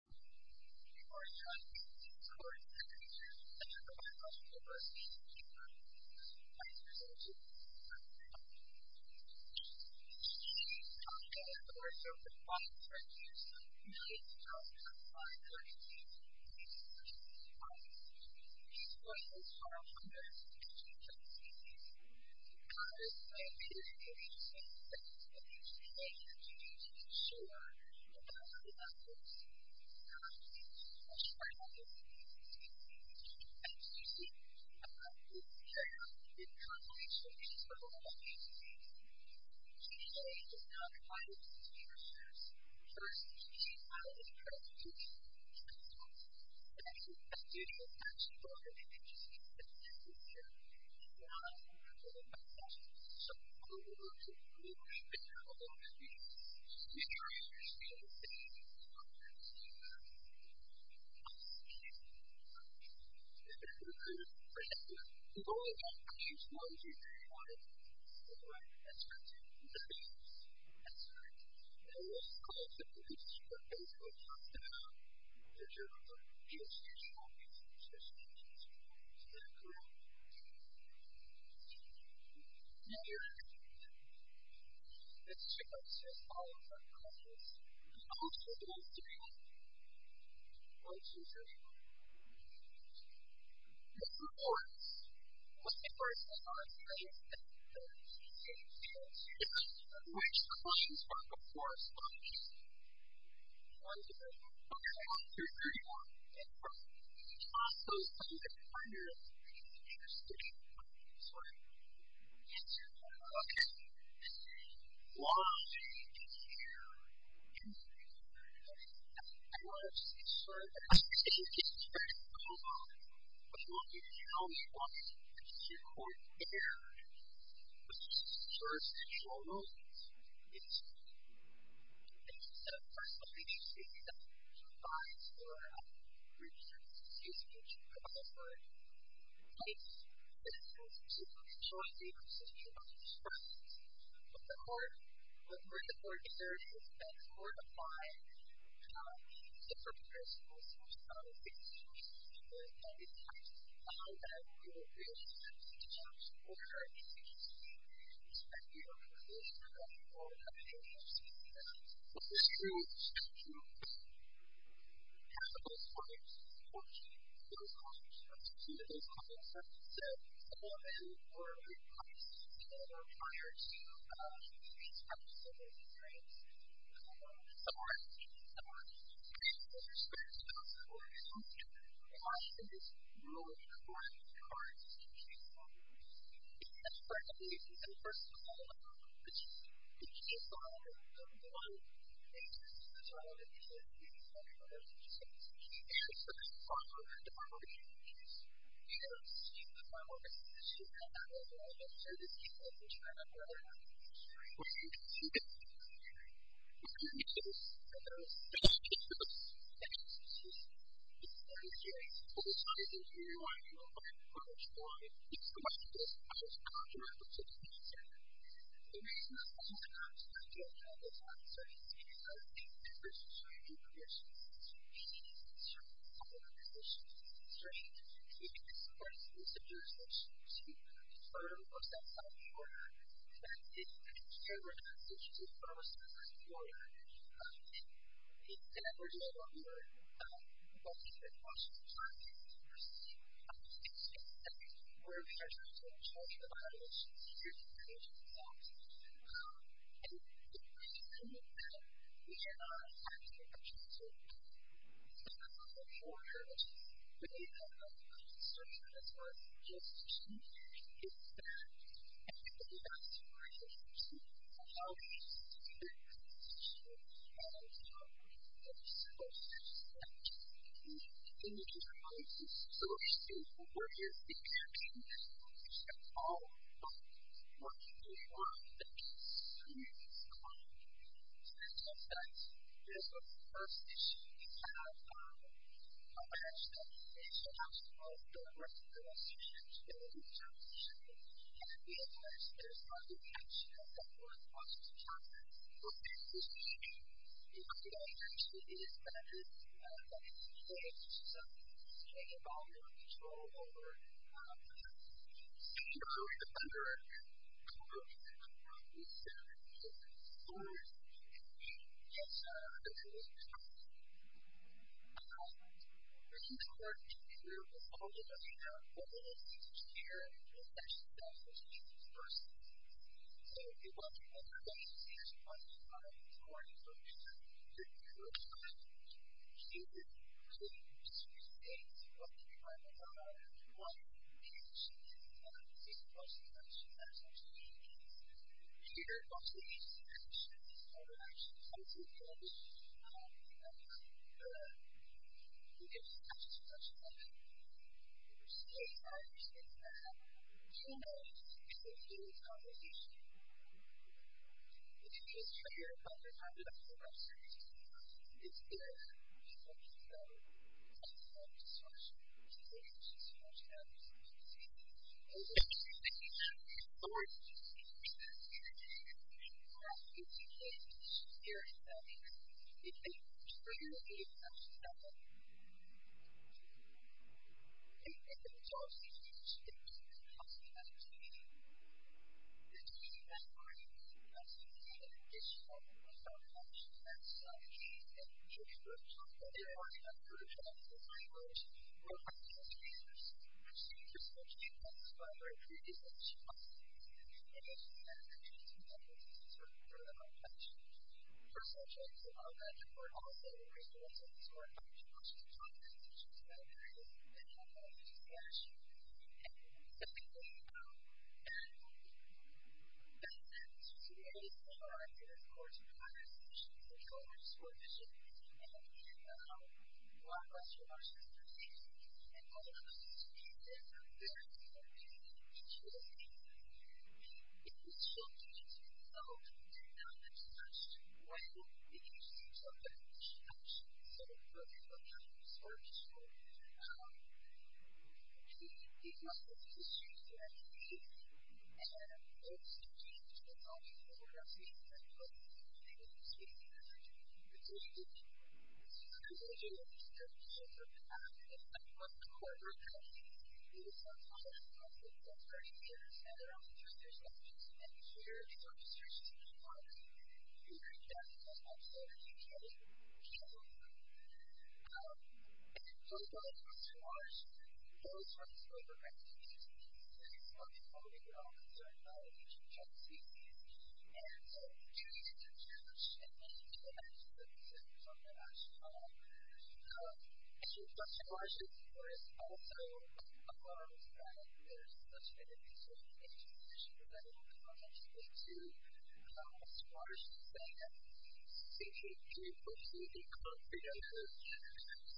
You are now in the recording section of the Biological Diversity v. EPA. Please proceed to the next slide. The EPA is responsible for over 5.6 million jobs per 5.6 million people each year in the United States. These jobs are often those of teachers. This slide is an interesting example of the EPA's contribution to ensure that all of our jobs are shared by all communities. In addition, EPA is now providing sustainable jobs. This slide is an example of the EPA's contribution to ensure that all of our jobs are shared by all communities. This slide is an example of the EPA's contribution to ensure that all of our jobs are shared by all communities. This report was published in 2018, and it is one in research for the four studies, 1, 2, 3, and 4. This is also an example of the EPA's contribution to ensure that all of our jobs are shared by all communities. There are a number of requirements for the EPA that have not been fully in use yet, in the first procedure that ammends all of the federal policy regulations that we have. And that is the power of respect for RiversIDE. Some are in use, some are not in use. So there's respect for RiversIDE. A lot of it is really according to the requirements of the EPA's policies. And frankly, in some parts of the world, the EPA's policy number one, is respect for the title of the EPA, and the title of the EPA's policy. We have seen the power of respect for RiversIDE. I don't know about you, but I'm sure there's people in this room that don't know that. But I think it's really important. We're going to get to this. And there's a lot of issues with respect for RiversIDE. It's one of the areas of the science that we really want to do a lot of research on. And it's the one thing that's absolutely fundamental to the EPA's plan. The reason that we're doing all of this work is so that we can help keep RiversIDE in place. The EPA's policy number one is to meet certain public conditions and constraints. We can't support a messengerization to a third-or-self-signed order. We can't give a procurement message to a third-or-self-signed order. We can never do that. We are not going to be able to do that. We don't have the capacity to do that. We're in charge of the violations. We are the agents of that. And the reason that we are not having the capacity to do that is because of the borders. And one of the concerns that has arisen with this issue is that everybody has to find a solution. And how do we find a solution? And how do we find a solution that meets the needs of all of us? So, what is the campaign that works for all of us? What is the work that meets the needs of all of us? So, I think that this is the first issue. We have awareness that we need to actually move forward with this issue. So, we have to be aware that there's a lot of action that's underway across the department. We're in this together. The other issue is that there's a lot of things that we need to change. So, we need to change the volume of control over the state or the federal government. We need to make sure that we get those things in place. We need to work together with all of us to have what we need to share and what we need to actually have in terms of resources. So, if you want to make a change, you actually want to find more information. If you're a student, really, just use the data to look at your final file. If you want to make a change, you want to see the questions that are actually being asked. If you're a student, you want to see the answers that are actually being asked. You want to see the actions that are actually being taken. So, that's it. To summarize, there's, of course, a lot of issues in terms of sportmanship. And one question I just want to say is that all of us need to be very, very careful in each of those areas. It is true that we don't do that as much when we use some type of instruction. So, for example, in sportsmanship, it's not just the students that have to do it. It's the teams that are involved in the program. It's the clubs that are involved in the program. It's the individuals that are involved in the program. It's the organizations that are involved in the program. It's not just the corporate companies. We just want all of us to take that very seriously. And we all need to make sure that our instructions are in line with the guidelines that are actually in place. Thank you. Sure. So, as far as question and answer goes, it's really important that we get all concerned about each of the strategies. And so, it's really good to challenge and then to imagine that it's an international issue. Question and answer, of course, also allows that there's such an interesting intersection into, as far as you say, teaching people to be co-creators,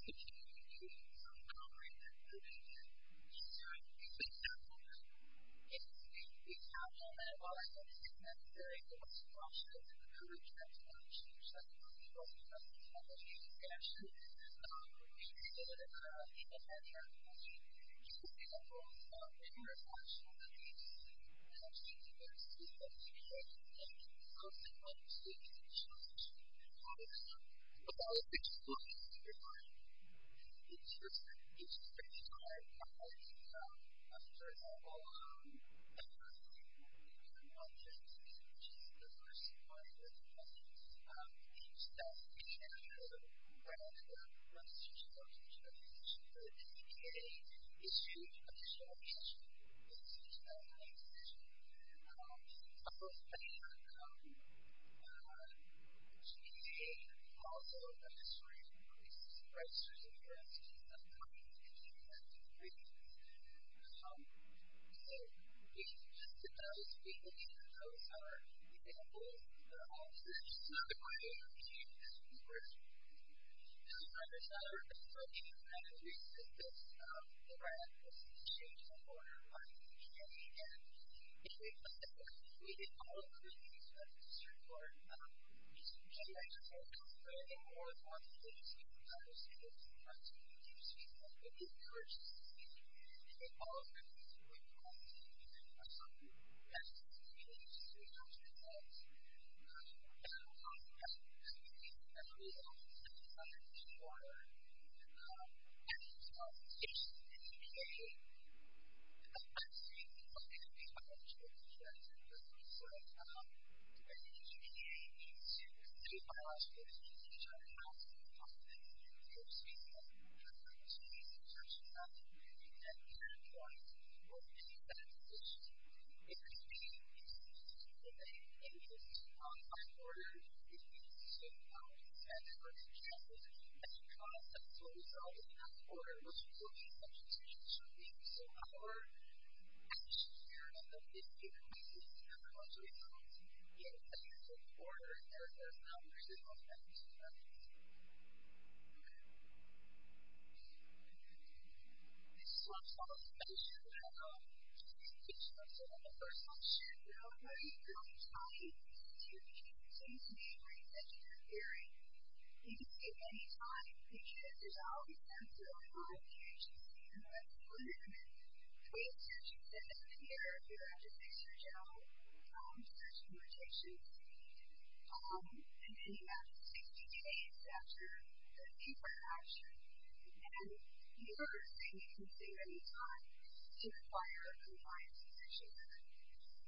teaching individuals to be co-creators. Sure. It's a challenge. Yes, it's a challenge. And while I think it's necessary for us to also encourage that kind of intersection, I think it's actually really good to have that kind of intersection. For example, when you're a national agency, you actually need to be able to see what's going on. And it's also going to be a challenge. But I think just looking at your time, it's pretty high quality. For example, I think one of the things, which is the first part of your question, is that international grants of registration, or registration for the NBDA is huge, but there's no question that it's an international institution. Also, the NBDA also has a history of increasing the prices of grants. So, just to kind of speak a little bit about our examples, this is not a great example, but there's a number of reasons that this grant has changed the order of life in the community. And if we look at what we did, all of the committees that we served for, many of them were one agency that was kind of holding the same branches. So, the agencies that contributed the most, in fact, all of them went behind the umbrellas and came in behind the umbrellas and did a specifics grant for grants. There was just one committee contribute, and that department decided to not apply for the grant. The changes of the NBDA, I think is only gonna make a bunch of other changes, but the NBDA needs to say, by last year, the NBDA has to be confident in their statement, they have to be assertive enough that they're going to work in that position. If the NBDA continues to delay, they need to take on a higher order, they need to take on a further challenge, and the process will result in a higher order, which is what the NBDA should be. So, however, I wish to hear about the NBDA crisis, and how much results you can get if the NBDA is in order, and there's not residual evidence of that. Okay. This is one follow-up question, and I don't know if this speaks to what I said in the first question, but I would like to know how do you really tie the NBDA to the NBDA, or do you take it as theory? You can take it any time, because there's always going to be a lot of changes in the NBDA. There's a lot of movement. The way that you set up the NBDA, you have to fix your job, you have to do rotations, and then you have 60 days after the NBDA action, and you are saying you can take any time to require compliance with the NBDA.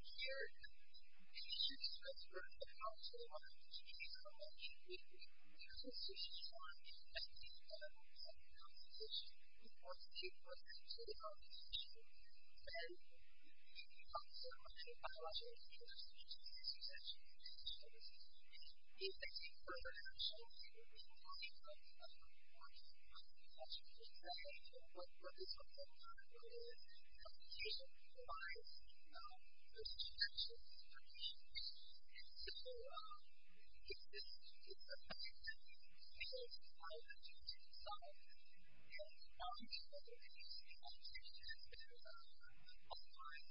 Here, the NBDA should express if the NBDA is in order, which is what the NBDA should be. Then, you can also, and I'm not sure if this speaks to this, because I'm sure it does, you can take the NBDA action in the early months of the course, and that's what you're saying, and that's what this whole thing is all about, is that the patient provides those interactions, those interactions, and so, if the NBDA is in order, then you can take the NBDA action in the summer, and that's just my opinion. It can't move faster, it can't happen faster. It can be purchased, it can be used, it can be made. There are methods for self-repression. So I'm going to start by saying that I'm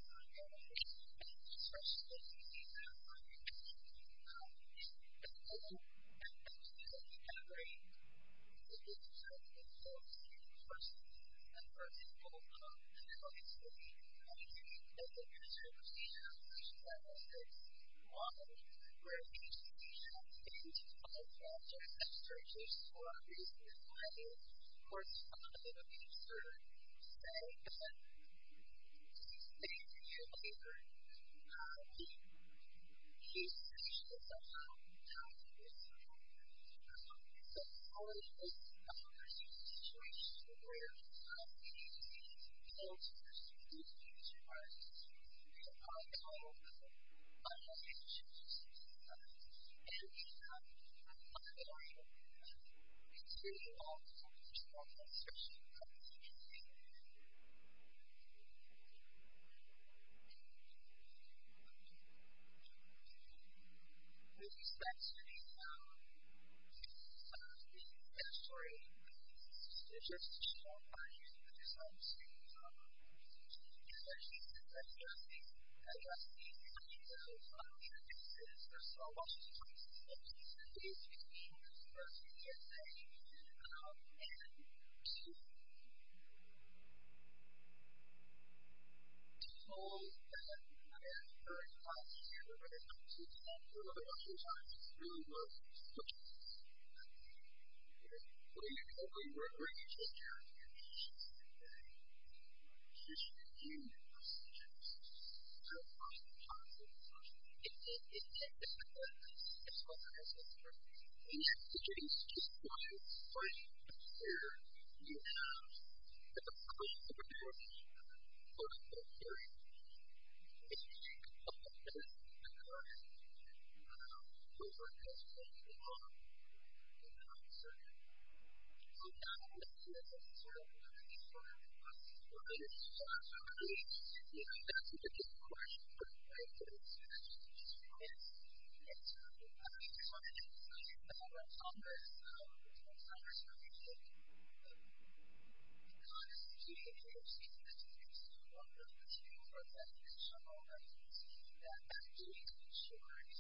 a member of Congress, and I'm a member of Congress for a reason. Congress is a community of human beings, and this is a community of all people. It's a community of all people, and it's a community of all rights, and it's a community of all people. And I'm doing to ensure that human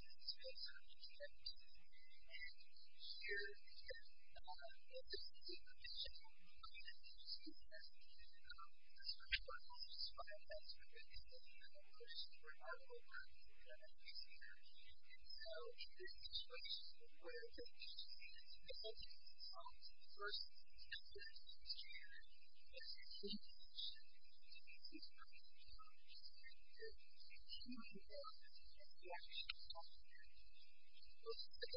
beings face how they can and can't. And here, again, if this is a question of who I am as a human being, the first part of this is fine. I just want to make this clear. The worst part of all of this is that I'm a receiver, and so in this situation, where I'm taking these students and they're holding these songs, the first step that I'm taking is to make sure that these students are in a good environment, and to ensure that they're actually doing their job. So, the second part of this is that it's a conversation for a lot of people. It's a conversation for a lot of people. It's a conversation for a lot of people. So, I'm going to give you a brief description of what this is. So, it's for a student, and it's for a researcher, and it's for a university. So, you need to be taking into consideration that no matter who or what you are, you need to be able to a Pittsburgh, Des Moines, Rhode Island,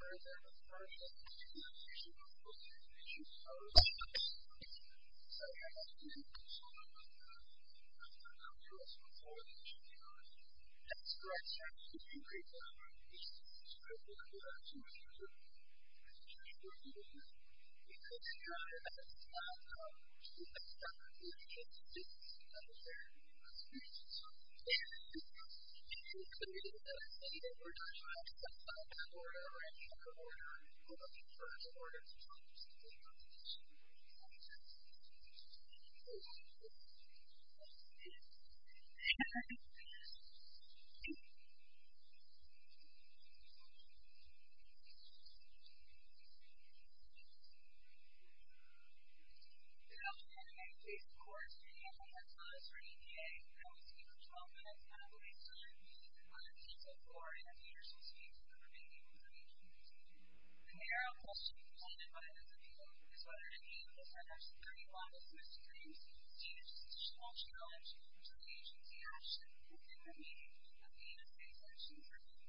Oregon, Michigan and Arizona boarder to have good service. So, you'll have to educate yourself on what brought you here, and how you want to resolve a problem that came to you. And so, at Stanford, things get a lot more interesting, and it's difficult for you when you're a student, and you're trying to figure out how to get yourself to a good place. And so, you need to be able to communicate that, and say that we're going to have some type of border, or any type of border, or any type of border that helps you get your position. Thank you. Thank you. Thank you. Thank you. Good afternoon. My name is Jason Korski, and I'm a professor at EPA. I will speak for 12 minutes, and I will be silent, muted, and quiet until 4, and the speakers will speak for 15 minutes each. The narrow question presented by this appeal is whether any of the Center's 31 distinguished challenges to the agency action within the meaning of being a state agency person.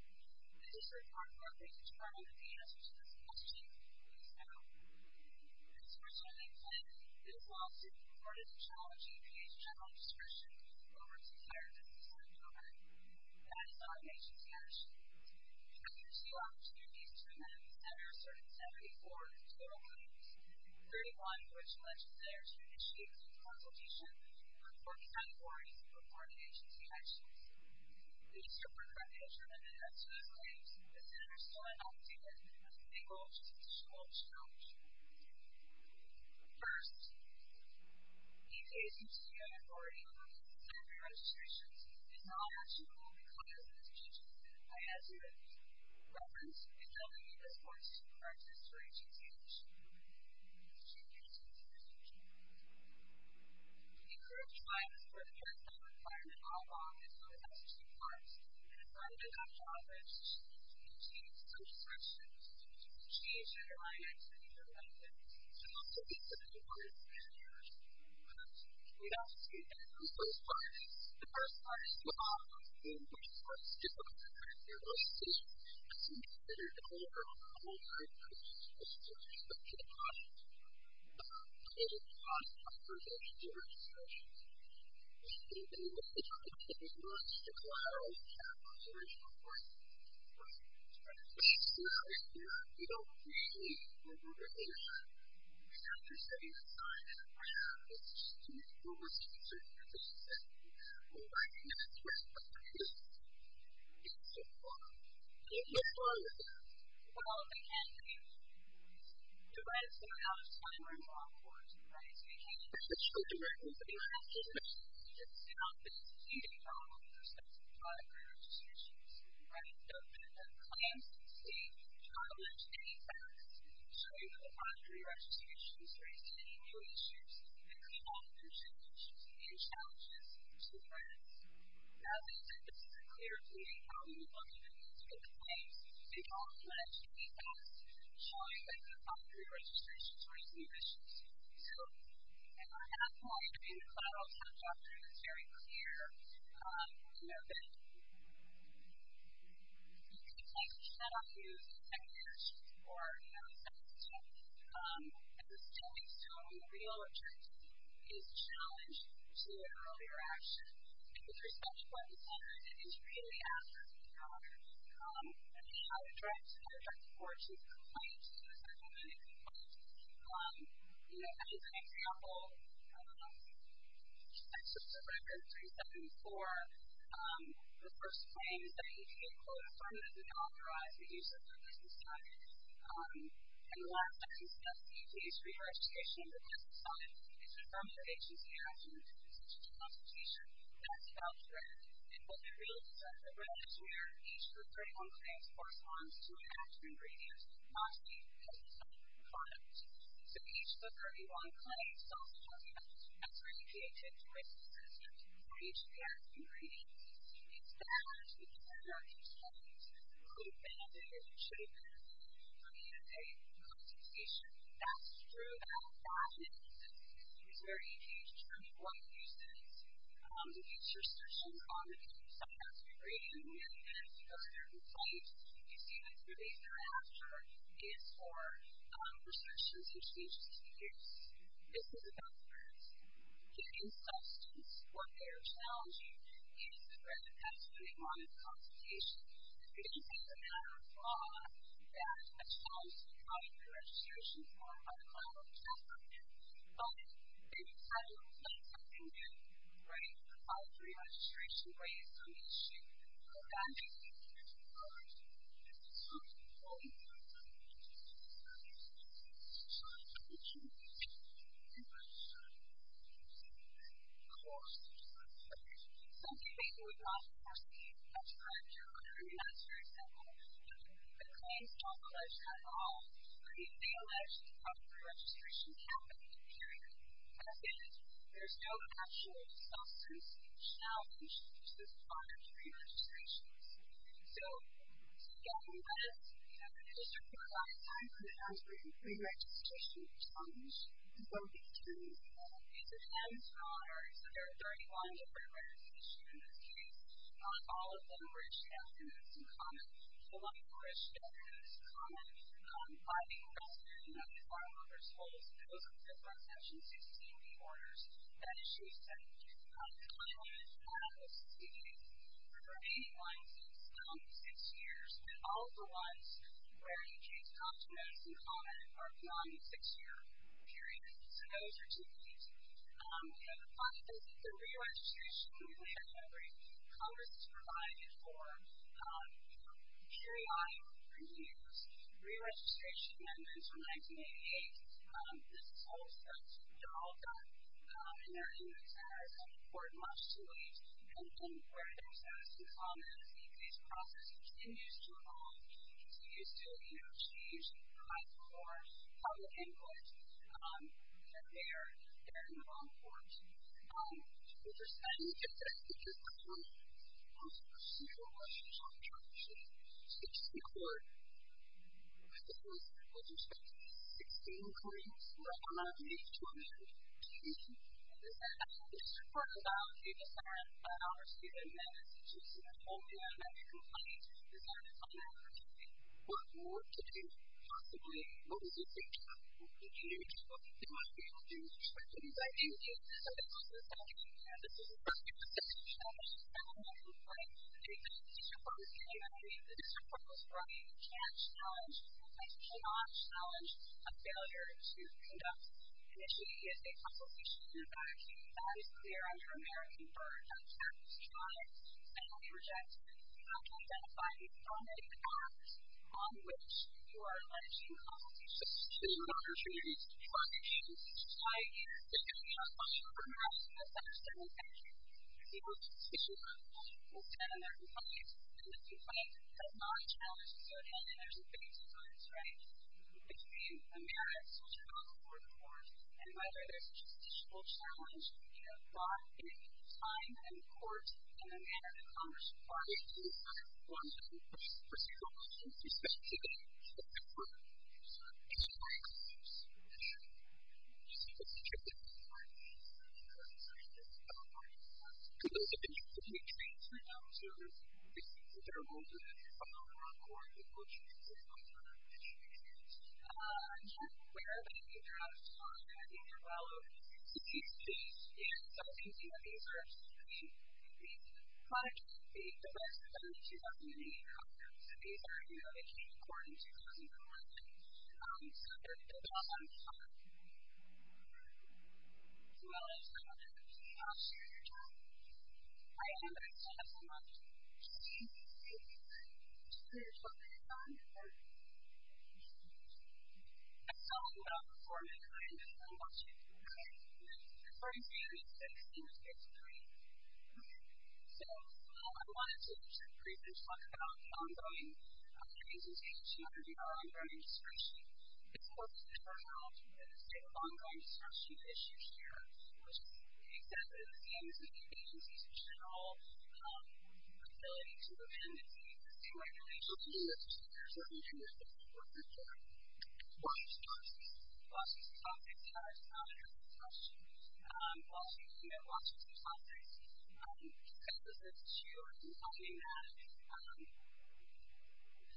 This is for the Department of Aging's Department of the answer to this question. And so, the source of the complaint is lawsuit reported in the Challenge EPA's general description over its entire business model. That is not the agency action. EPA has two opportunities to amend the Center's 374 total claims, 31 of which alleged that there are two issues in the Consultation for the 49 authorities who reported agency actions. The issue for the company to amend it up to these claims, the Center still has not taken a single judicial challenge. First, EPA's agency-owned authority, although it has had three registrations, is not a tool required for this agency. I have here a reference in telling me the source of the records for agency action within the meaning of being a state agency person. We encourage clients for their self-requirement all along, and so it has two parts. The first is on job registration. It contains three sections. It includes change and reliance and interdependence. The most significant one is failure. It also includes those parties. The first part is job. It includes those difficult to track their registrations. It's intended to cover all types of issues with respect to the project, not related to cost, authorization, or registrations. It includes the fact that it was launched to collateralize the Caterpillar's original plan. It's not in here. We don't need a new regulation. We have to say that we're not in a position to make rules that concern the agency. We're working in a press conference, and so on. And what's wrong with that? Well, they can't review the rules. The red is for out-of-time or in-law boards. The red is for agency action. The red is for agency action. It's not the leading job with respect to the project or registrations. The red is for the clients who seek to challenge any facts showing that the factory registrations raise many new issues. It includes all the potential issues and challenges to the clients. Now that this is a clear view of how we would look at it, it's good for the clients. They all pledge to be fast, showing that the factory registrations raise new issues. So, if we're not going to be in the cloud, I'll just talk through this very clear method. You can take a set of news and technical issues for a second step. At this point, the real objective is challenge to an earlier action. And with respect to what we said, it is really after the cloud. And how to drive forward to the client, to the settlement, and to the client. As an example, that's just a record 374. The first claim is that EPA closed firm and did not authorize the use of their business documents. And the last sentence says, EPA's reiteration of the business documents is a firm of agency action in the position of the Constitution. That's about correct. And what we really want to say is that the red is where each of the three claims corresponds to an action ingredient, not to be used as a separate product. So, each of the 31 claims also has a message. That's where EPA takes away from this is that it's not each of the action ingredients. It's that each of the action ingredients could benefit or should benefit from a consultation. That's true. That's not an instance. It's where EPA determines what uses. The future search and confidence. So, it has to be graded in the minutes of a certain site. You see the three days thereafter is for research institutions to use. This is about correct. Getting substance. What they are challenging is the threat that comes when they want a consultation. It is a matter of law that a child should provide their registration form by the client or the child's opinion. But it doesn't mean that you can't provide the registration based on the issue. It is a matter of the law. It is a social legal issue. It's a social legal issue. It's a social legal issue. It is a social legal issue. And then of course, substance abuse. Substance abuse was not a person who had to go to a criminal justice center. The claims don't touch at all. They allege that a pre-registration happened. Period. That is, there is no actual substance challenge that persists on a pre-registration. So, getting that, you know, the district provides time for the actual pre-registration challenge. So, the attorneys, these are them, so there are 31 different registrations in this case. Not all of them were challenged. And then some comments, by being registered in one of the farmworker's homes, it wasn't just by Section 16B orders. That issue is settled. The final issue that I want to speak to is the remaining license, six years, and all of the ones where you can't come to medicine on it are beyond the six-year period. So, those are two of these. We have five cases of pre-registration. Congress has provided for, you know, periodic reviews. Re-registration amendments from 1988. This is also, you know, all done. And there are things that are important much too late. And where there are some comments, if this process continues to evolve, continues to, you know, change, provides more public input, then they are in the wrong courts. With respect to this, I think there's a number of procedural issues that we're trying to fix in court. I think there was, with respect to the 16 recordings, there are a lot of meetings to attend. And as I said, I think it's important that all of you decide, obviously, that in that situation, the only way to make a complaint is not to come back or to say what you want to do. Possibly, what was your signature? What did you use? What did you want to be able to do? I think the most important thing is to know what you're talking about. And this is a public policy challenge. This is a public policy challenge. And when you complain, the District Court will tell you everything. The District Court will tell you you can't challenge, you absolutely cannot challenge, a failure to conduct an issue. It is a complication that is clear under American Barter Act. It's a crime that we reject. We have to identify how many times, how much, who are managing public institutions, who are managing private institutions. Why? Because if you have a question or perhaps a misunderstanding, you can go to the District Court. You can stand there and complain. And if you complain, it's a non-challenge. So again, there's a big difference, right, between the merits of a court report and whether there's a justiciable challenge in applying it in time and in court in the manner that Congress requires to apply it. One thing, which is pretty common, especially today, is that there are a number of courts in this country that receive a District Court report based on the current circumstances that are going on. Could you explain to them so that they can figure out what their role is in applying a court report that will change their minds about their institutions? I'm not aware of any. They're out of town. I think they're well over 60 cities. And some of these, you know, these are, I mean, the rest of them are 2008. These are, you know, they came to court in 2011. So there's a lot of... as well as Congress. I'll share your time. I understand that they're not getting a District Court report that they're applying for. That's something about performance. I understand that. I understand that. For example, if they seem to get three So I wanted to briefly talk about the ongoing reasons the agency undergoes ongoing discretion. It's important to note that the state of ongoing discretion issues here, which is exactly the same as the agencies in general with the ability to amend and to use the same regulations in the District Court in order to get a District Court report that they're applying for. The Washington Post, I think, has not addressed this question. Well, you know, Washington Post, I think, addresses this issue in finding that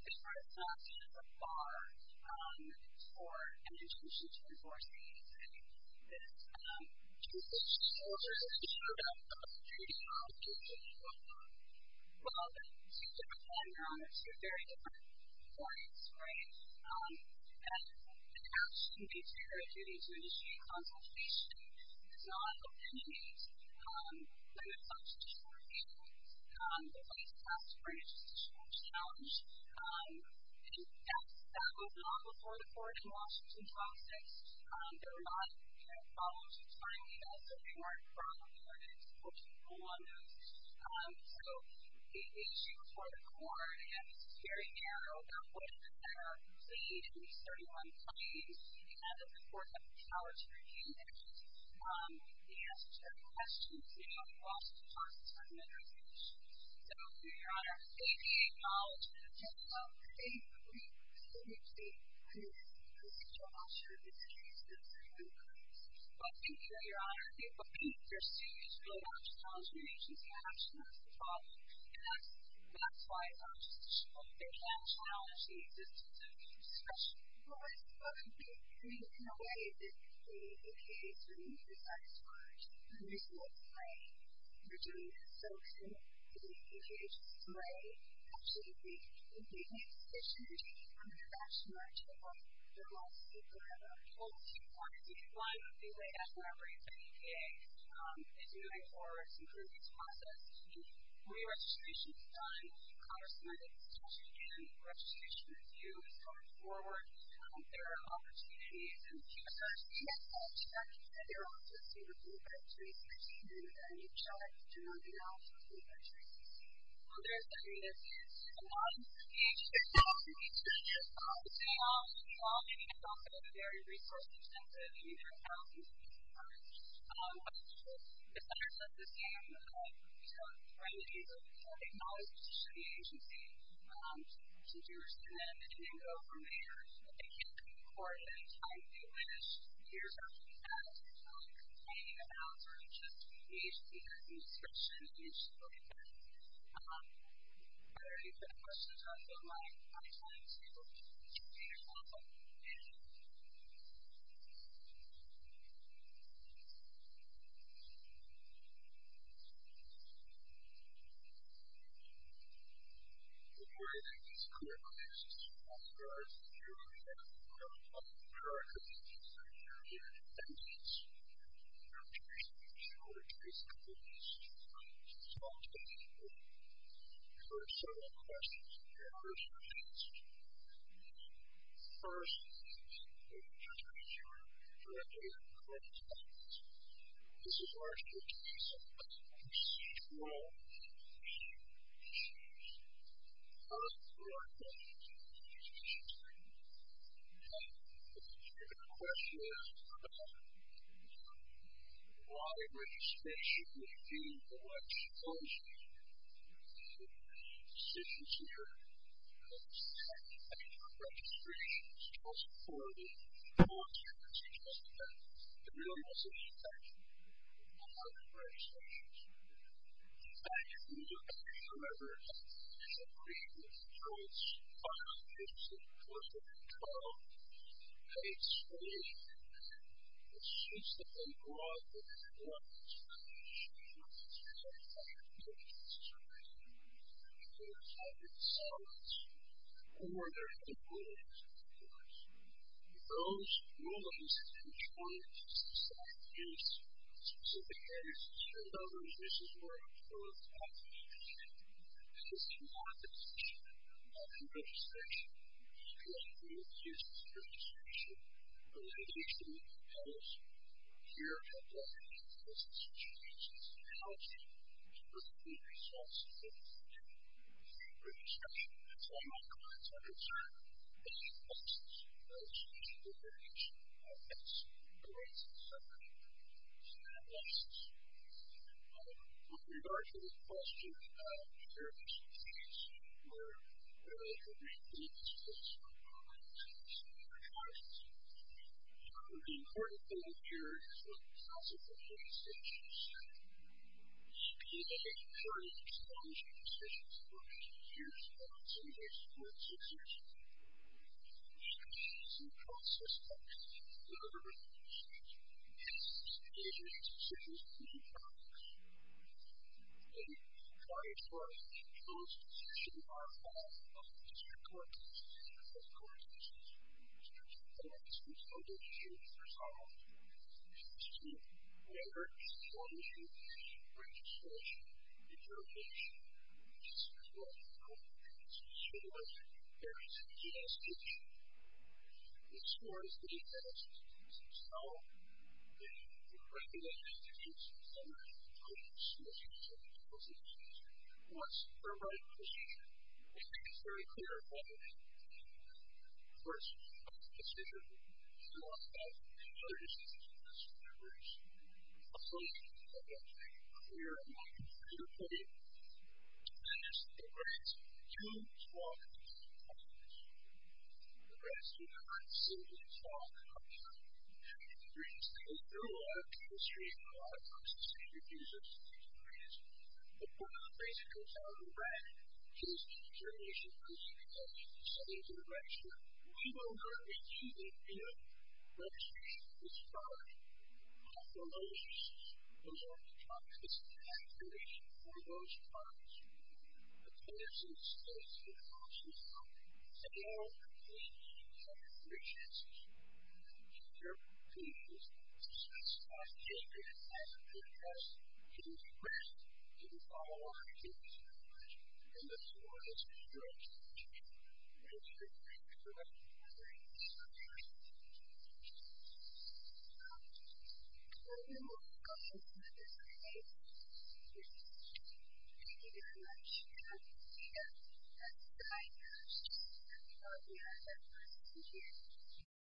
different options are for an institution to enforce the agency. This decision was issued out of the District Court. Well, the two different programs have very different points, right? And it actually meets their duty to initiate consultation. It does not eliminate the substantive review of the case and ask for an institutional challenge. In fact, that was not before the Court in Washington, D.C. There were not any problems with filing those that they weren't probably ordered to put a rule on those. So the issue before the Court, and this is very narrow, that was that there are at least 31 claims in the end of the Court that acknowledge review actions from the answer to the questions in the Washington Post and other institutions. So, Your Honor, 88 acknowledge and 10 acknowledge. Okay, we agree with Mr. Osher that the agency has 31 claims. But, thank you, Your Honor. But, there still is really not a challenge for the agency to actually address the problem. And that's why they can't challenge the existence of a new discretion. But, we, in a way, disagree. The EPA is really dissatisfied with the use of spray. We're doing this so that the EPA can spray actually the EPA decision and take it from their action right to the Court. So, that's what I want to say. Your Honor, I hope that you find the way that the EPA is moving forward to improve this process. The pre-registration is done. Congress and I think it's just again, registration review is coming forward. There are opportunities in the QSRC and there are opportunities in the NHRA to do that. There is a need for the EPA to do that. We all think it's very resource intensive and there is need for the EPA to do think it's very resource intensive and there is a need for the EPA to do that. Thank you. there are several questions that need answered. The first is the procedure for data and correspondence This is largely a case of procedural issues Part of the broad concept of data and correspondence The second question is why registration would be the most important decision maker in this type of registration that's chosen for the purpose of data The real message is that data most important decision maker in a lot of registrations Thank you to whoever has agreed with the choice of the choice of the choice of the